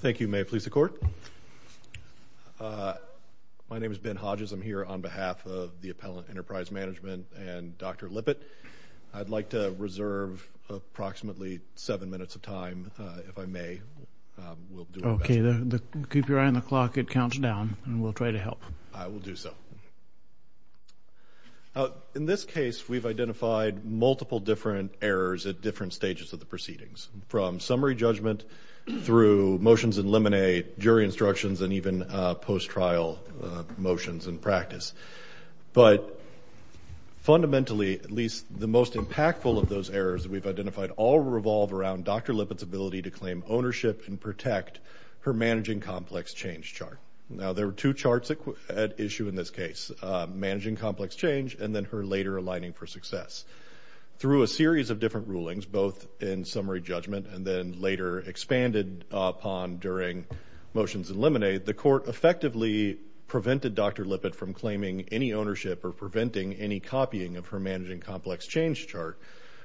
Thank you. May it please the Court. My name is Ben Hodges. I'm here on behalf of the Appellant Enterprise Management and Dr. Lippitt. I'd like to reserve approximately seven minutes of time, if I may. We'll do our best. Okay. Keep your eye on the clock. It counts down. And we'll try to help. I will do so. In this case, we've identified multiple different errors at different stages of the proceedings. From summary judgment through motions in limine, jury instructions, and even post-trial motions in practice. But fundamentally, at least the most impactful of those errors that we've identified all revolve around Dr. Lippitt's ability to claim ownership and protect her managing complex change chart. Now, there were two charts at issue in this case, managing complex change, and then her later aligning for success. Through a series of different rulings, both in summary judgment and then later expanded upon during motions in limine, the Court effectively prevented Dr. Lippitt from claiming any ownership or preventing any copying of her managing complex change chart,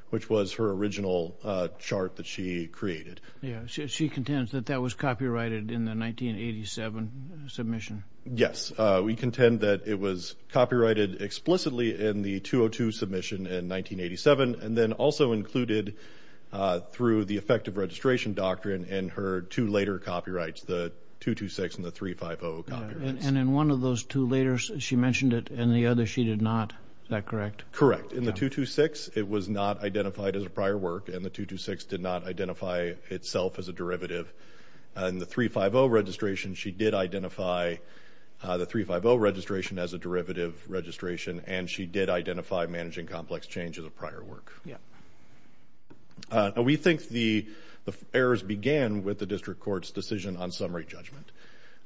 which was her original chart that she created. Yeah. She contends that that was copyrighted in the 1987 submission. Yes. We contend that it was copyrighted explicitly in the 202 submission in 1987, and then also included through the effective registration doctrine in her two later copyrights, the 226 and the 350 copyrights. And in one of those two later, she mentioned it, and the other she did not. Is that correct? Correct. In the 226, it was not identified as a prior work, and the 226 did not identify itself as a derivative. In the 350 registration, she did identify the 350 registration as a derivative registration, and she did identify managing complex change as a prior work. Yeah. We think the errors began with the District Court's decision on summary judgment.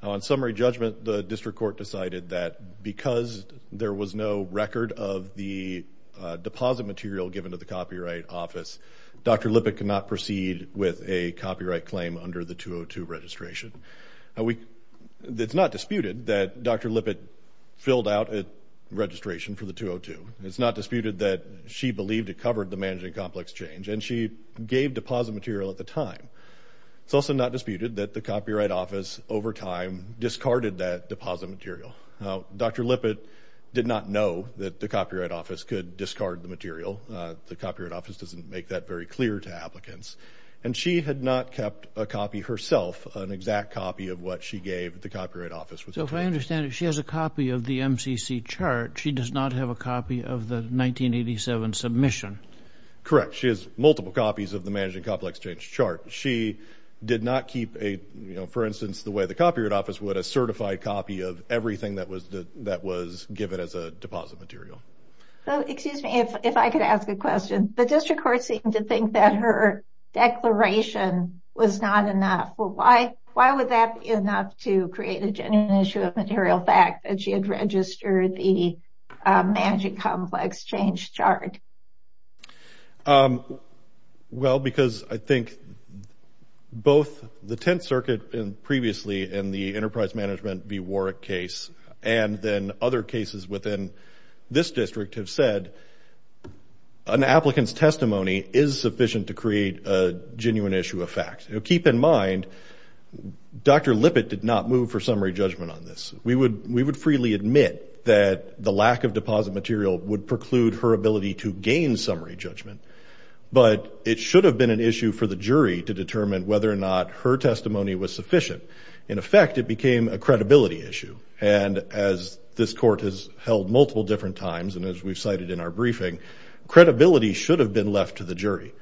On summary judgment, the District Court decided that because there was no record of the deposit material given to the Copyright Office, Dr. Lippitt could not proceed with a copyright claim under the 202 registration. It's not disputed that Dr. Lippitt filled out a registration for the 202. It's not disputed that she believed it covered the managing complex change, and she gave deposit material at the time. It's also not disputed that the Copyright Office, over time, discarded that deposit material. Dr. Lippitt did not know that the Copyright Office could discard the material. The Copyright Office doesn't make that very clear to applicants. And she had not kept a copy herself, an exact copy of what she gave the Copyright Office with the claim. So if I understand it, she has a copy of the MCC chart. She does not have a copy of the 1987 submission. Correct. She has multiple copies of the managing complex change chart. She did not keep a, for instance, the way the Copyright Office would, a certified copy of everything that was given as a deposit material. Excuse me, if I could ask a question. The district court seemed to think that her declaration was not enough. Why would that be enough to create a genuine issue of material fact that she had registered the managing complex change chart? Well, because I think both the Tenth Circuit previously and the Enterprise Management v. District have said an applicant's testimony is sufficient to create a genuine issue of fact. Keep in mind, Dr. Lippitt did not move for summary judgment on this. We would freely admit that the lack of deposit material would preclude her ability to gain summary judgment. But it should have been an issue for the jury to determine whether or not her testimony was sufficient. In effect, it became a credibility issue. And as this court has held multiple different times, and as we've cited in our briefing, credibility should have been left to the jury.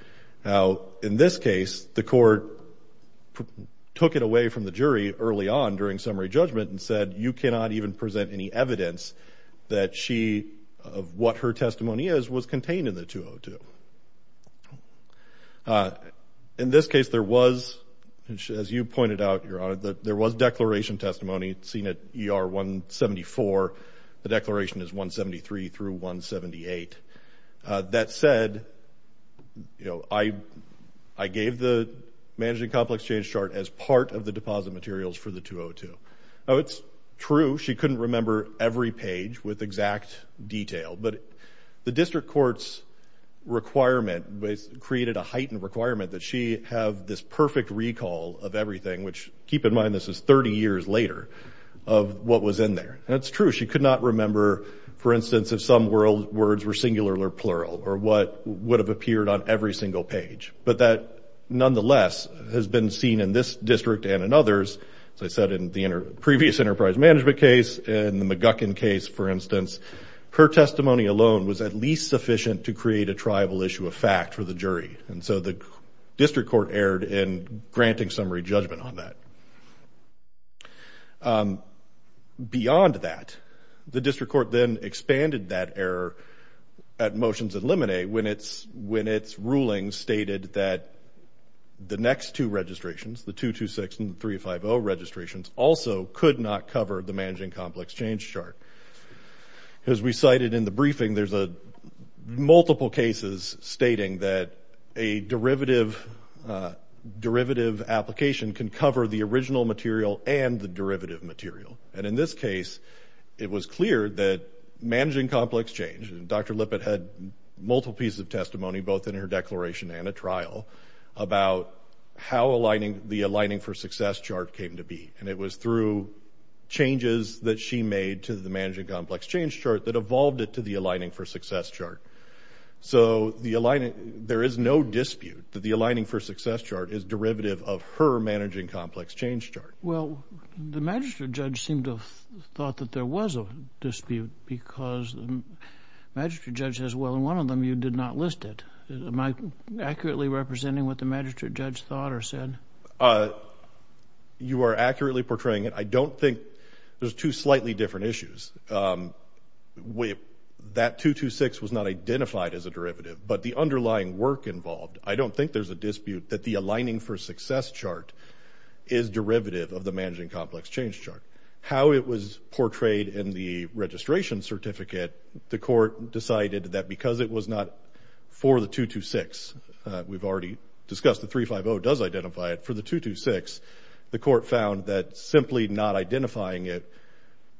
Now, in this case, the court took it away from the jury early on during summary judgment and said, you cannot even present any evidence that she, of what her testimony is, was contained in the 202. In this case, there was, as you pointed out, Your Honor, there was declaration testimony, seen at ER 174. The declaration is 173 through 178. That said, you know, I gave the Managing Complex Change Chart as part of the deposit materials for the 202. Now, it's true she couldn't remember every page with exact detail, but the district court's requirement created a heightened requirement that she have this perfect recall of everything, which, keep in mind, this is 30 years later of what was in there. And it's true she could not remember, for instance, if some words were singular or plural or what would have appeared on every single page. But that, nonetheless, has been seen in this district and in others, as I said in the previous enterprise management case, in the McGuckin case, for instance. Her testimony alone was at least sufficient to create a triable issue of fact for the jury. And so the district court erred in granting summary judgment on that. Beyond that, the district court then expanded that error at Motions and Lemonade when its ruling stated that the next two registrations, the 226 and the 350 registrations, also could not cover the Managing Complex Change Chart. As we cited in the briefing, there's multiple cases stating that a derivative application can cover the original material and the derivative material. And in this case, it was clear that Managing Complex Change, and Dr. Lippitt had multiple pieces of testimony, both in her declaration and a trial, about how the Aligning for Success Chart came to be. And it was through changes that she made to the Managing Complex Change Chart that evolved it to the Aligning for Success Chart. So there is no dispute that the Aligning for Success Chart is derivative of her Managing Complex Change Chart. Well, the magistrate judge seemed to have thought that there was a dispute because the magistrate judge says, well, in one of them, you did not list it. Am I accurately representing what the magistrate judge thought or said? You are accurately portraying it. I don't think there's two slightly different issues. That 226 was not identified as a derivative, but the underlying work involved, I don't think there's a dispute that the Aligning for Success Chart is derivative of the Managing Complex Change Chart. How it was portrayed in the registration certificate, the court decided that because it was not for the 226, we've already discussed the 350 does identify it, for the 226, the court found that simply not identifying it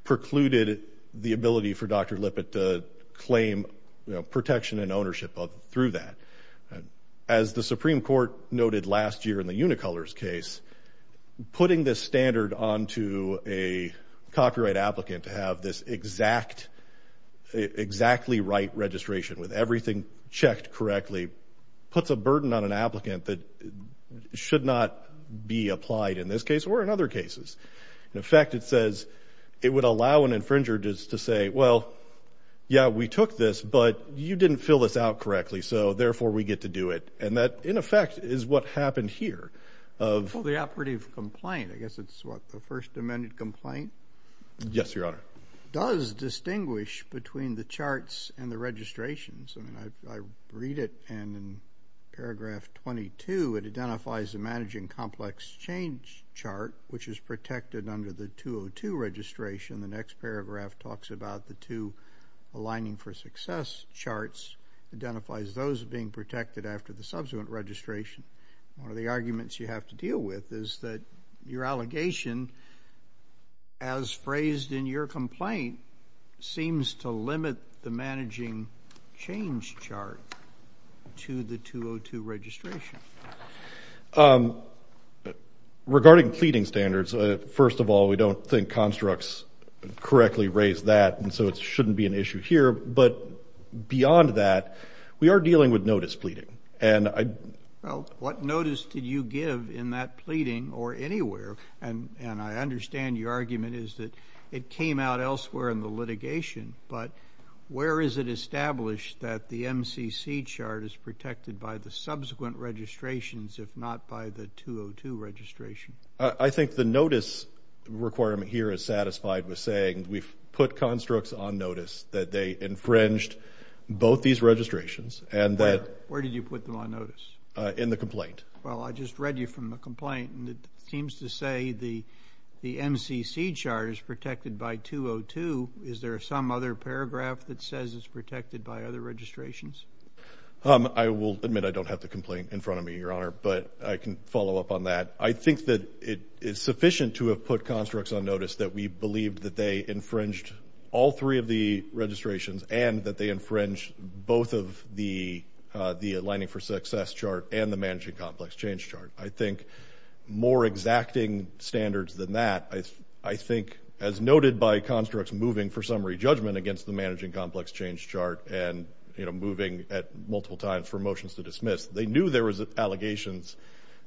precluded the ability for Dr. Lippitt to claim protection and ownership through that. As the Supreme Court noted last year in the Unicolor's case, putting this standard onto a copyright applicant to have this exactly right registration with everything checked correctly puts a burden on an applicant that should not be applied in this case or in other cases. In effect, it says it would allow an infringer to say, well, yeah, we took this, but you didn't fill this out correctly, so therefore, we get to do it. That, in effect, is what happened here. The operative complaint, I guess it's what, the First Amendment complaint? Yes, Your Honor. Does distinguish between the charts and the registrations. I read it, and in paragraph 22, it identifies the Managing Complex Change Chart, which is protected under the 202 registration. The next paragraph talks about the two Aligning for Success Charts, identifies those being The other thing that you have to deal with is that your allegation, as phrased in your complaint, seems to limit the Managing Change Chart to the 202 registration. Regarding pleading standards, first of all, we don't think constructs correctly raise that, and so it shouldn't be an issue here. But beyond that, we are dealing with notice pleading. Well, what notice did you give in that pleading, or anywhere, and I understand your argument is that it came out elsewhere in the litigation, but where is it established that the MCC chart is protected by the subsequent registrations, if not by the 202 registration? I think the notice requirement here is satisfied with saying we've put constructs on notice that they infringed both these registrations, and that Where did you put them on notice? In the complaint. Well, I just read you from the complaint, and it seems to say the MCC chart is protected by 202. Is there some other paragraph that says it's protected by other registrations? I will admit I don't have the complaint in front of me, Your Honor, but I can follow up on that. I think that it is sufficient to have put constructs on notice that we believe that they infringed all three of the registrations, and that they infringed both of the aligning for success chart and the managing complex change chart. I think more exacting standards than that, I think, as noted by constructs moving for summary judgment against the managing complex change chart, and moving at multiple times for motions to dismiss, they knew there was allegations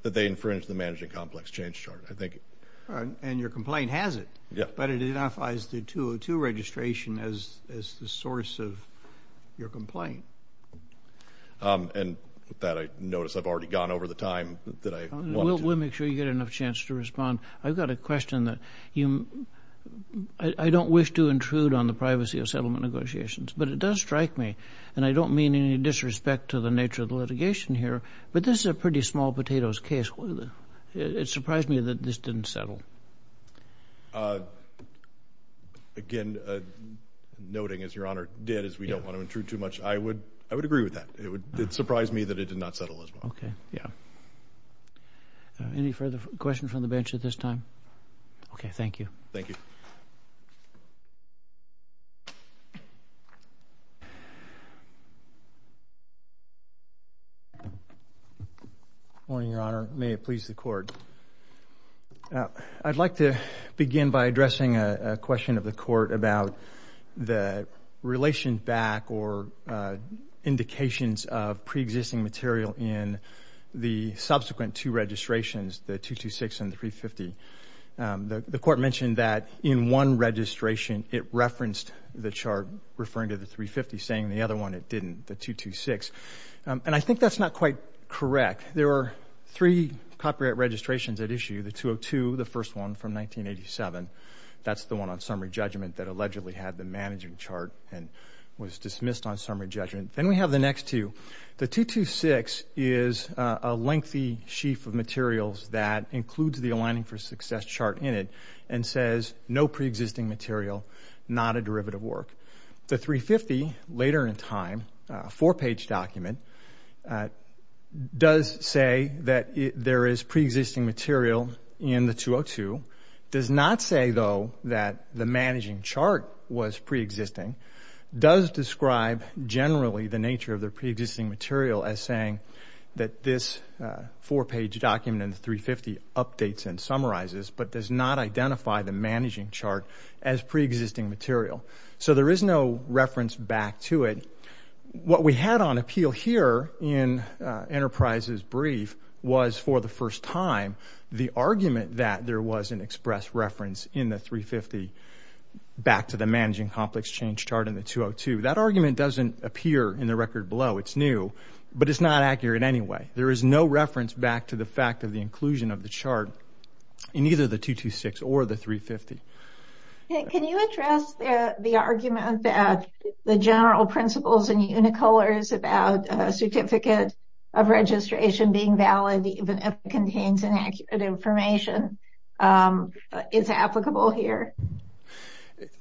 that they infringed the managing complex change chart, I think. And your complaint has it, but it identifies the 202 registration as the source of your complaint. And with that, I notice I've already gone over the time that I wanted to. We'll make sure you get enough chance to respond. I've got a question that I don't wish to intrude on the privacy of settlement negotiations, but it does strike me, and I don't mean any disrespect to the nature of the litigation here, but this is a pretty small potatoes case. It surprised me that this didn't settle. Again, noting, as Your Honor did, as we don't want to intrude too much, I would agree with that. It surprised me that it did not settle as well. Any further questions from the bench at this time? Okay, thank you. Morning, Your Honor. May it please the Court. I'd like to begin by addressing a question of the Court about the relation back or indications of preexisting material in the subsequent two registrations, the 226 and the 350. The Court mentioned that in one registration it referenced the chart referring to the 350, saying in the other one it didn't, the 226. And I think that's not quite correct. There were three copyright registrations at issue, the 202, the first one from 1987. That's the one on summary judgment that allegedly had the managing chart and was dismissed on summary judgment. Then we have the next two. The 226 is a lengthy sheaf of materials that includes the aligning for success chart in it and says no preexisting material, not a derivative work. The 350, later in time, a four-page document, does say that there is preexisting material in the 202, does not say, though, that the managing chart was preexisting, does describe generally the nature of the preexisting material as saying that this four-page document in the 350 updates and summarizes, but does not identify the managing chart as preexisting material. So there is no reference back to it. What we had on appeal here in Enterprise's brief was, for the first time, the argument that there was an express reference in the 350 back to the managing complex change chart in the 202. That argument doesn't appear in the record below. It's new, but it's not accurate anyway. There is no reference back to the fact of the inclusion of the chart in either the 226 or the 350. Can you address the argument that the general principles in Unicolors about a certificate of registration being valid even if it contains inaccurate information is applicable here?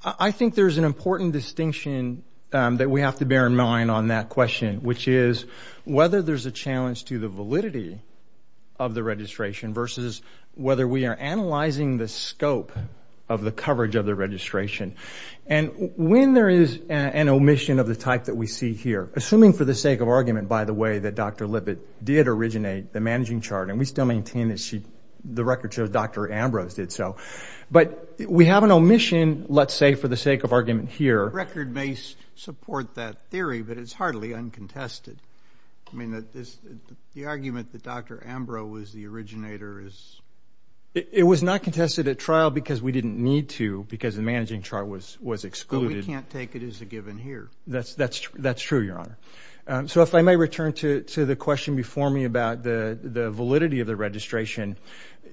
I think there's an important distinction that we have to bear in mind on that question, which is whether there's a challenge to the validity of the registration versus whether we are analyzing the scope of the coverage of the registration. And when there is an omission of the type that we see here, assuming for the sake of argument, by the way, that Dr. Libet did originate the managing chart, and we still maintain that she, the record shows Dr. Ambrose did so. But we have an omission, let's say, for the sake of argument here. Record may support that theory, but it's hardly uncontested. I mean, the argument that Dr. Ambrose was the originator is... It was not contested at trial because we didn't need to, because the managing chart was excluded. But we can't take it as a given here. That's true, Your Honor. So if I may return to the question before me about the validity of the registration,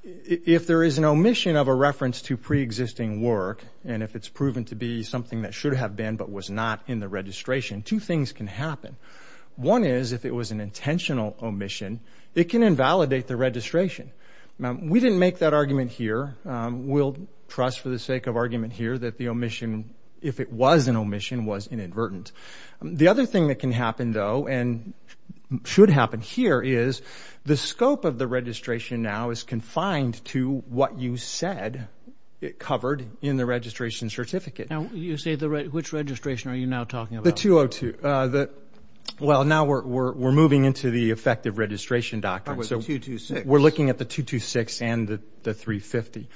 if there is an omission of a reference to preexisting work, and if it's proven to be something that should have been but was not in the registration, two things can happen. One is, if it was an intentional omission, it can invalidate the registration. We didn't make that argument here. We'll trust for the sake of argument here that the omission, if it was an omission, was inadvertent. The other thing that can happen, though, and should happen here, is the scope of the registration now is confined to what you said it covered in the registration certificate. Now, you say the... Which registration are you now talking about? The 202. Well, now we're moving into the effective registration, Doctor. The 226. We're looking at the 226 and the 350.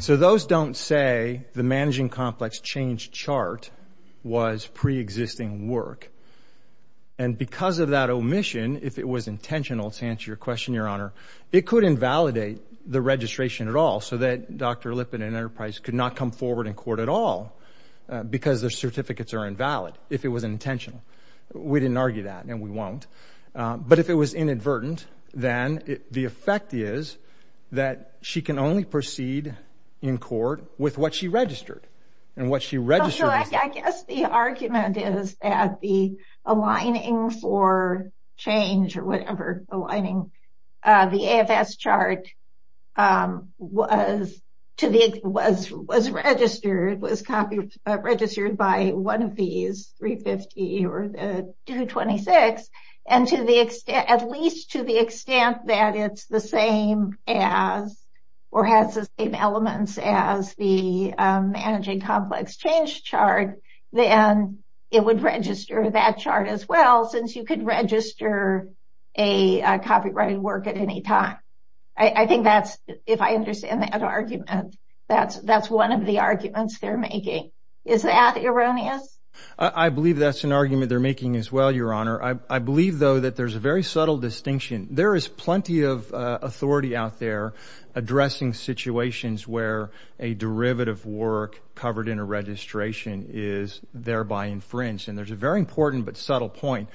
So those don't say the managing complex change chart was preexisting work. And because of that omission, if it was intentional, to answer your question, Your Honor, it could invalidate the registration at all so that Dr. Lippitt and Enterprise could not come forward in court at all because their certificates are invalid if it was intentional. We didn't argue that, and we won't. But if it was inadvertent, then the effect is that she can only proceed in court with what she registered. And what she I guess the argument is that the aligning for change or whatever, aligning the AFS chart was registered, was registered by one of these, 350 or the 226. And to the extent, at least to the extent that it's the same as or has the same elements as the managing complex change chart, then it would register that chart as well, since you could register a copyrighted work at any time. I think that's if I understand that argument, that's that's one of the arguments they're making. Is that erroneous? I believe that's an argument they're making as well, Your Honor. I believe, though, that there's a very subtle distinction. There is plenty of authority out there addressing situations where a derivative work covered in a registration is thereby infringed. And there's a very important but subtle point.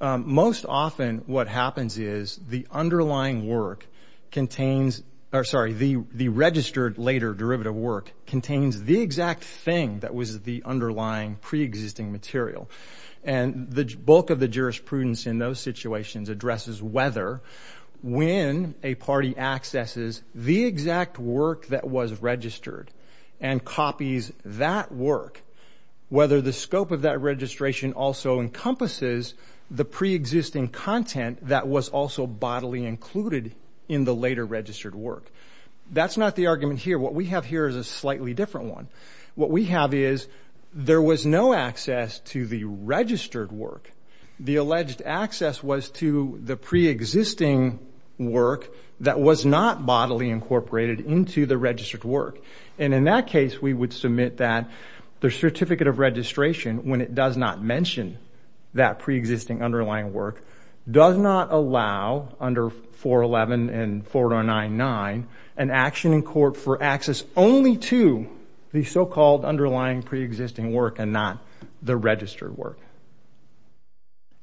Most often what happens is the underlying work contains or sorry, the the registered later derivative work contains the exact thing that was the underlying preexisting material. And the bulk of the jurisprudence in those work that was registered and copies that work, whether the scope of that registration also encompasses the preexisting content that was also bodily included in the later registered work. That's not the argument here. What we have here is a slightly different one. What we have is there was no access to the registered work. The alleged access was to the into the registered work. And in that case, we would submit that the certificate of registration, when it does not mention that preexisting underlying work, does not allow under 411 and 4099 an action in court for access only to the so-called underlying preexisting work and not the registered work.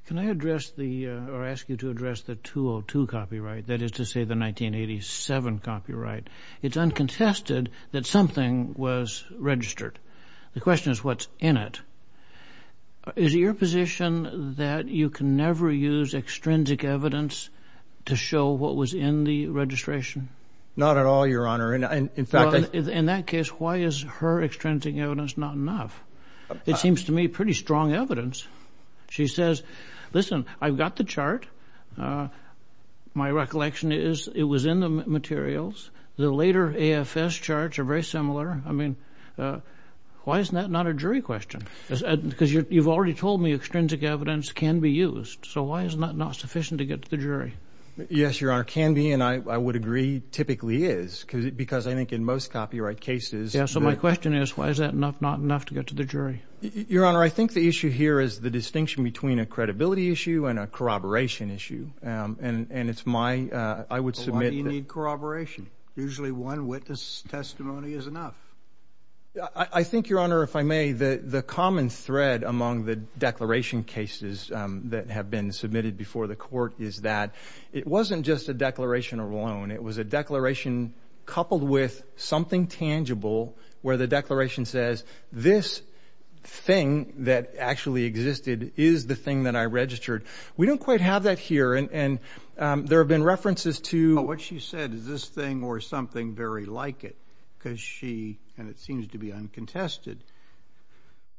Can I address the or ask you to address the 202 copyright, that is to say the 1987 copyright. It's uncontested that something was registered. The question is what's in it. Is your position that you can never use extrinsic evidence to show what was in the registration? Not at all, Your Honor. And in fact, in that case, why is her extrinsic evidence not enough? It seems to me pretty strong evidence. She says, listen, I've got the chart. My recollection is it was in the materials. The later AFS charts are very similar. I mean, why isn't that not a jury question? Because you've already told me extrinsic evidence can be used. So why is that not sufficient to get to the jury? Yes, Your Honor, can be. And I would agree typically is because I think in most copyright cases, so my question is, why is that not enough to get to the jury? Your Honor, I think the issue here is the distinction between a credibility issue and a corroboration issue. And it's my I would submit you need corroboration. Usually one witness testimony is enough. I think, Your Honor, if I may, the common thread among the declaration cases that have been submitted before the court is that it wasn't just a declaration of loan. It was a declaration coupled with something tangible where the declaration says this thing that actually existed is the thing that I registered. We don't quite have that here. And there have been references to what she said is this thing or something very like it because she and it seems to be uncontested,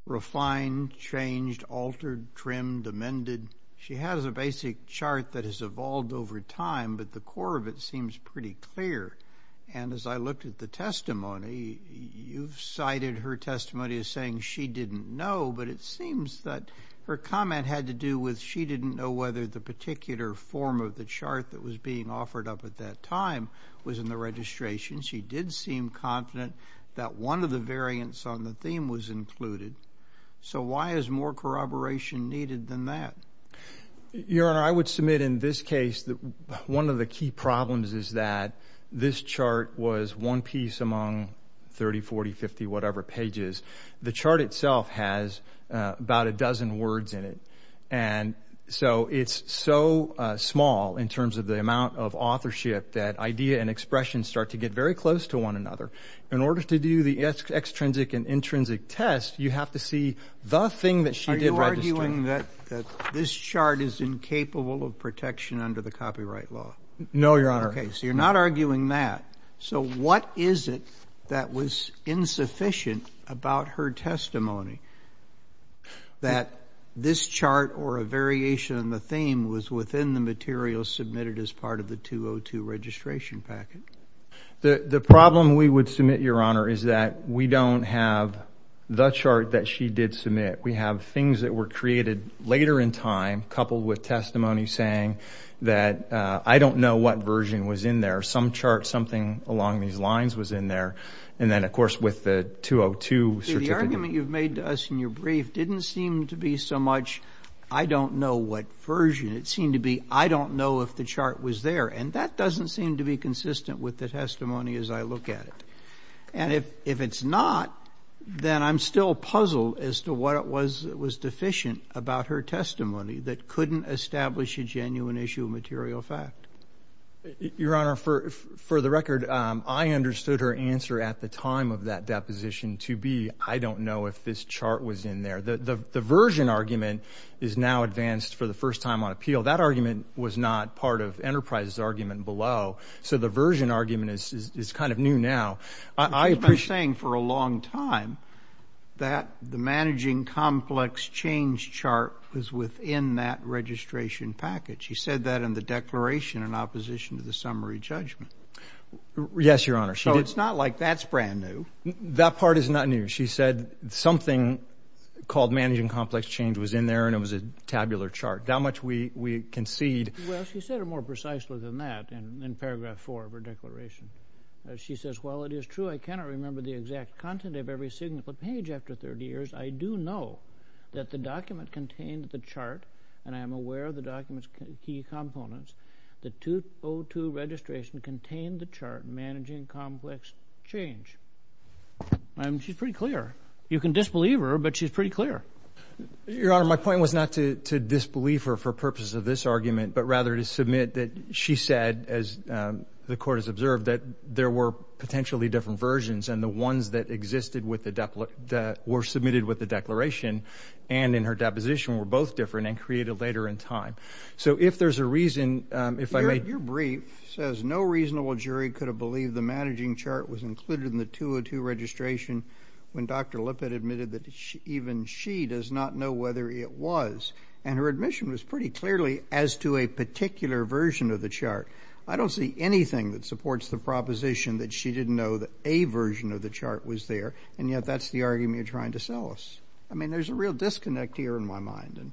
refined, changed, altered, trimmed, amended. She has a basic chart that has pretty clear. And as I looked at the testimony, you've cited her testimony as saying she didn't know. But it seems that her comment had to do with she didn't know whether the particular form of the chart that was being offered up at that time was in the registration. She did seem confident that one of the variants on the theme was included. So why is more corroboration needed than that? Your Honor, I would submit in this case that one of the key problems is that this chart was one piece among 30, 40, 50, whatever pages. The chart itself has about a dozen words in it. And so it's so small in terms of the amount of authorship that idea and expression start to get very close to one another. In order to do the extrinsic and intrinsic test, you have to see the thing that she did. So you're not arguing that this chart is incapable of protection under the copyright law? No, Your Honor. Okay. So you're not arguing that. So what is it that was insufficient about her testimony that this chart or a variation on the theme was within the material submitted as part of the 202 registration packet? The problem we would submit, Your Honor, is that we don't have the chart that she did were created later in time, coupled with testimony saying that, I don't know what version was in there. Some chart, something along these lines was in there. And then, of course, with the 202 certificate. The argument you've made to us in your brief didn't seem to be so much, I don't know what version. It seemed to be, I don't know if the chart was there. And that doesn't seem to be consistent with the testimony as I look at it. And if it's not, then I'm still puzzled as to what was deficient about her testimony that couldn't establish a genuine issue of material fact. Your Honor, for the record, I understood her answer at the time of that deposition to be, I don't know if this chart was in there. The version argument is now advanced for the first time on appeal. That argument was not part of Enterprise's argument below. So the version argument is kind of new now. I've been saying for a long time that the Managing Complex Change chart was within that registration package. She said that in the declaration in opposition to the summary judgment. Yes, Your Honor, she did. So it's not like that's brand new. That part is not new. She said something called Managing Complex Change was in there and it was a tabular chart. How much we concede. Well, she said it more precisely than that in paragraph four of her declaration. She says, well, it is true. I cannot remember the exact content of every single page after 30 years. I do know that the document contained the chart and I am aware of the document's key components. The 202 registration contained the chart Managing Complex Change. She's pretty clear. You can disbelieve her, but she's pretty clear. Your Honor, my point was not to disbelieve her for purposes of this argument, but rather to submit that she said, as the Court has observed, that there were potentially different versions and the ones that existed with the, that were submitted with the declaration and in her deposition were both different and created later in time. So if there's a reason, if I may. Your brief says no reasonable jury could have believed the managing chart was included in the 202 registration when Dr. Lippitt admitted that even she does not know whether it was. And her admission was pretty clearly as to a particular version of the chart. I don't see anything that supports the proposition that she didn't know that a version of the chart was there. And yet that's the argument you're trying to sell us. I mean, there's a real disconnect here in my mind. And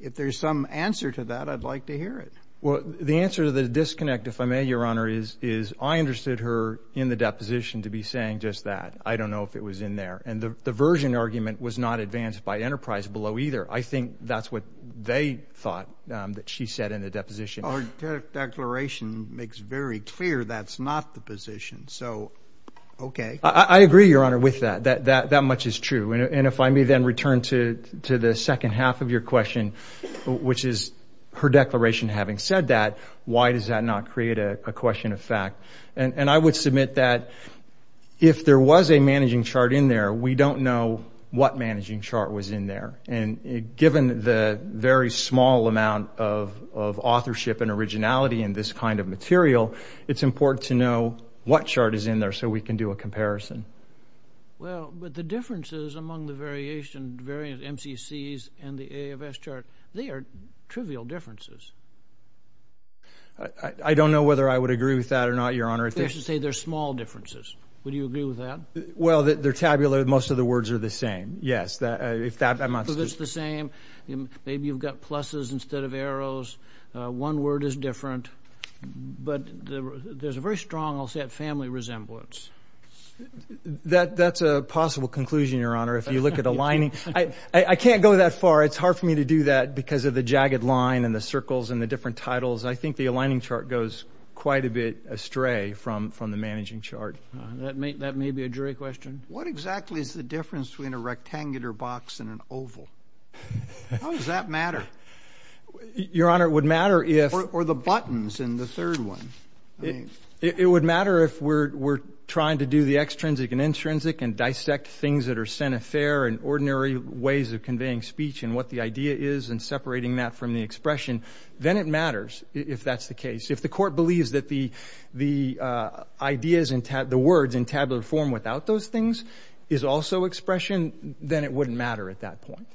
if there's some answer to that, I'd like to hear it. Well, the answer to the disconnect, if I may, Your Honor, is, is I understood her in the deposition to be saying just that. I don't know if it was in there. And the, the version argument was not advanced by Enterprise below either. I think that's what they thought that she said in the deposition. Our declaration makes very clear that's not the position. So, okay. I agree, Your Honor, with that. That, that, that much is true. And if I may then return to, to the second half of your question, which is her declaration having said that, why does that not create a question of fact? And, and I would submit that if there was a managing chart in there, we don't know what managing chart was in there. And given the very small amount of, of authorship and originality in this kind of material, it's important to know what chart is in there so we can do a comparison. Well, but the differences among the variation, variant MCCs and the A of S chart, they are trivial differences. I don't know whether I would agree with that or not, Your Honor. I should say they're small differences. Would you agree with that? Well, they're tabular. Most of the words are the same. Yes, that, if that amounts to the same. Maybe you've got pluses instead of arrows. One word is different. But there's a very strong, I'll say, family resemblance. That's a possible conclusion, Your Honor, if you look at aligning. I can't go that far. It's hard for me to do that because of the jagged line and the circles and the different titles. I think the aligning chart goes quite a bit astray from, from the managing chart. That may, that may be a jury question. What exactly is the difference between a rectangular box and an oval? How does that matter? Your Honor, it would matter if... Or the buttons in the third one. It would matter if we're, we're trying to do the extrinsic and intrinsic and dissect things that are sent a fair and ordinary ways of conveying speech and what the idea is and separating that from the expression. Then it matters if that's the case. If the court the words in tabular form without those things is also expression, then it wouldn't matter at that point.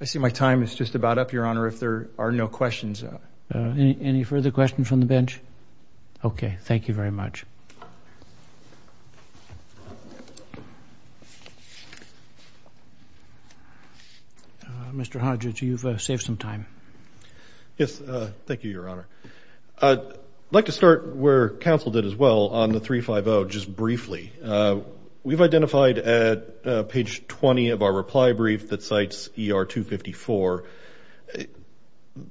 I see my time is just about up, Your Honor, if there are no questions. Any further questions from the bench? Okay. Thank you very much. Mr. Hodges, you've saved some time. Yes. Thank you, Your Honor. I'd like to start where counsel did as well on the 350, just briefly. We've identified at page 20 of our reply brief that cites ER 254.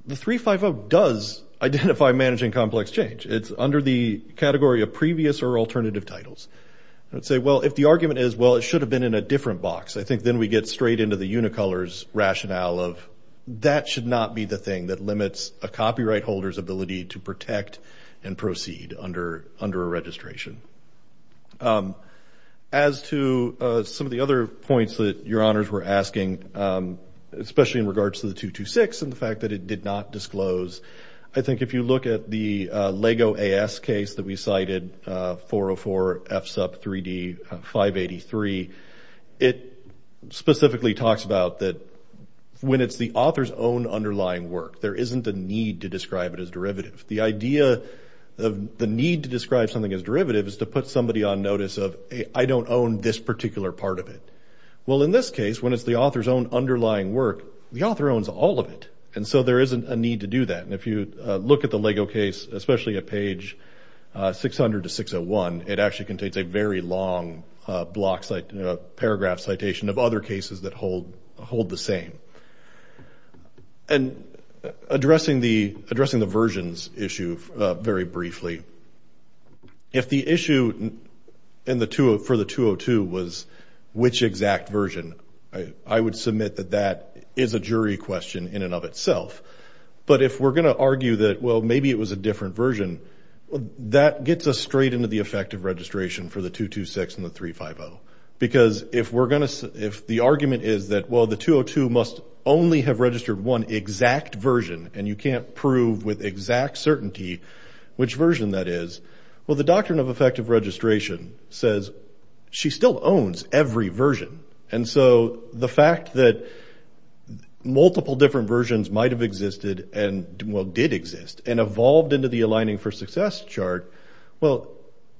The 350 does identify managing complex change. It's under the category of previous or alternative titles. I would say, well, if the argument is, well, it should have been in a different box, I should not be the thing that limits a copyright holder's ability to protect and proceed under a registration. As to some of the other points that Your Honors were asking, especially in regards to the 226 and the fact that it did not disclose, I think if you look at the Lego AS case that we cited, 404 FSUP 3D 583, it specifically talks about that when it's the author's own underlying work, there isn't a need to describe it as derivative. The idea of the need to describe something as derivative is to put somebody on notice of, I don't own this particular part of it. Well, in this case, when it's the author's own underlying work, the author owns all of it, and so there isn't a need to do that. And if you look at the Lego case, especially at page 600 to 601, it actually contains a very long paragraph citation of other cases that hold the same. And addressing the versions issue very briefly, if the issue for the 202 was which exact version, I would submit that that is a jury question in and of itself. But if we're going to argue that, well, maybe it was a different version, that gets us straight into the effective registration for the 226 and the 350. Because if the argument is that, well, the 202 must only have registered one exact version, and you can't prove with exact certainty which version that is, well, the doctrine of effective registration says she still owns every version. And so the fact that multiple different versions might have existed and, well, did exist and evolved into the aligning for success chart, well,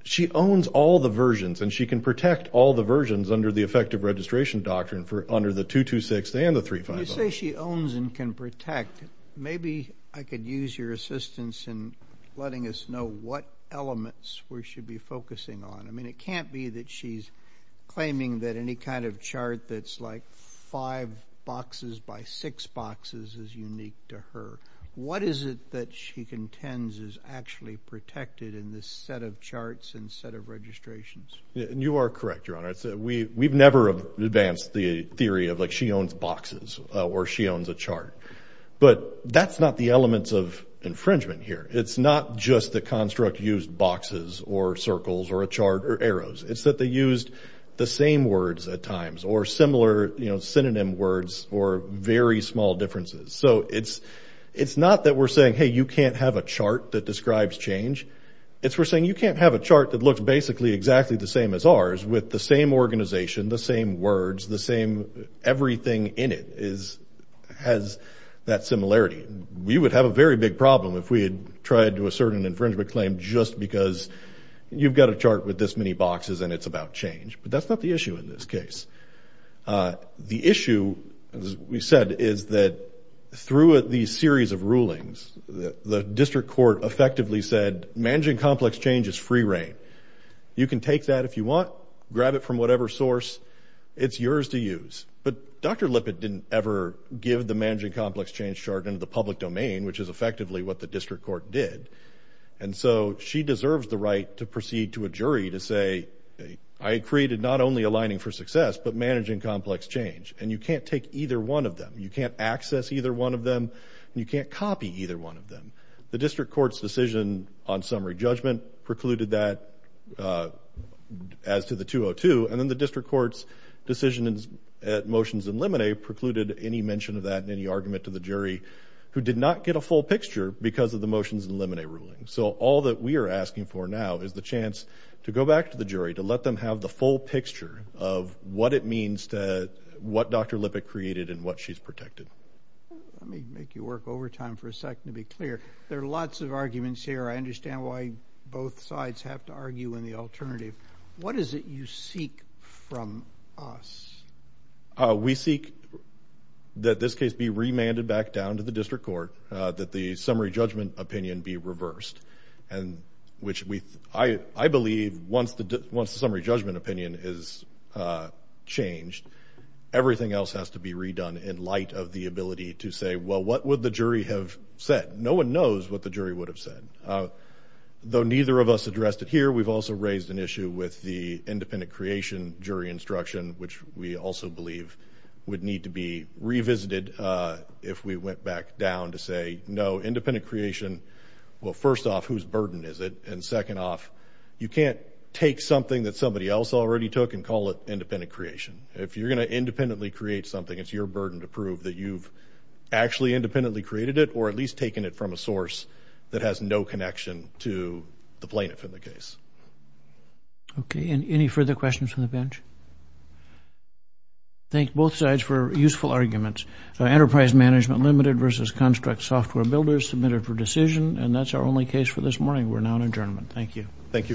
she owns all the versions, and she can protect all the versions under the effective registration doctrine for under the 226 and the 350. When you say she owns and can protect, maybe I could use your assistance in letting us know what elements we should be focusing on. I mean, it can't be that she's claiming that any kind of chart that's like five boxes by six boxes is unique to her. What is it that she contends is actually protected in this set of charts and set of registrations? You are correct, Your Honor. We've never advanced the theory of, like, she owns boxes or she owns a chart. But that's not the elements of infringement here. It's not just the construct used boxes or circles or a chart or arrows. It's that they used the same words at times or similar, you know, synonym words or very small differences. So it's not that we're saying, hey, you can't have a chart that describes change. It's we're saying you can't have a chart that looks basically exactly the same as ours with the same organization, the same words, the same everything in it has that similarity. We would have a very big problem if we had tried to assert an infringement claim just because you've got a chart with this many boxes and it's about change. But that's not the issue in this case. The issue, as we said, is that through these series of rulings, the district court effectively said managing complex change is free reign. You can take that if you want, grab it from whatever source it's yours to use. But Dr. Lippitt didn't ever give the managing complex change chart in the public domain, which is effectively what the district court did. And so she deserves the right to proceed to a jury to say, I created not only aligning for success, but managing complex change. And you can't take either one of them. You can't access either one of them. You can't copy either one of them. The district court's decision on summary judgment precluded that as to the 202. And then the argument to the jury who did not get a full picture because of the motions eliminate ruling. So all that we are asking for now is the chance to go back to the jury to let them have the full picture of what it means to what Dr. Lippitt created and what she's protected. Let me make you work overtime for a second to be clear. There are lots of arguments here. I understand why both sides have to argue in the alternative. What is it you seek from us? We seek that this case be remanded back down to the district court, that the summary judgment opinion be reversed. And which I believe once the summary judgment opinion is changed, everything else has to be redone in light of the ability to say, well, what would the jury have said? No one knows what the jury would have said. Though neither of us addressed it here, we've also raised an issue with the independent creation jury instruction, which we also believe would need to be revisited if we went back down to say no independent creation. Well, first off, whose burden is it? And second off, you can't take something that somebody else already took and call it independent creation. If you're going to independently create something, it's your burden to prove that you've actually independently created it or at least taken it from a source that has no connection to the plaintiff in the case. Okay. And any further questions from the bench? Thank both sides for useful arguments. Enterprise Management Limited versus Construct Software Builders submitted for decision. And that's our only case for this morning. We're now in adjournment. Thank you. Thank you very much.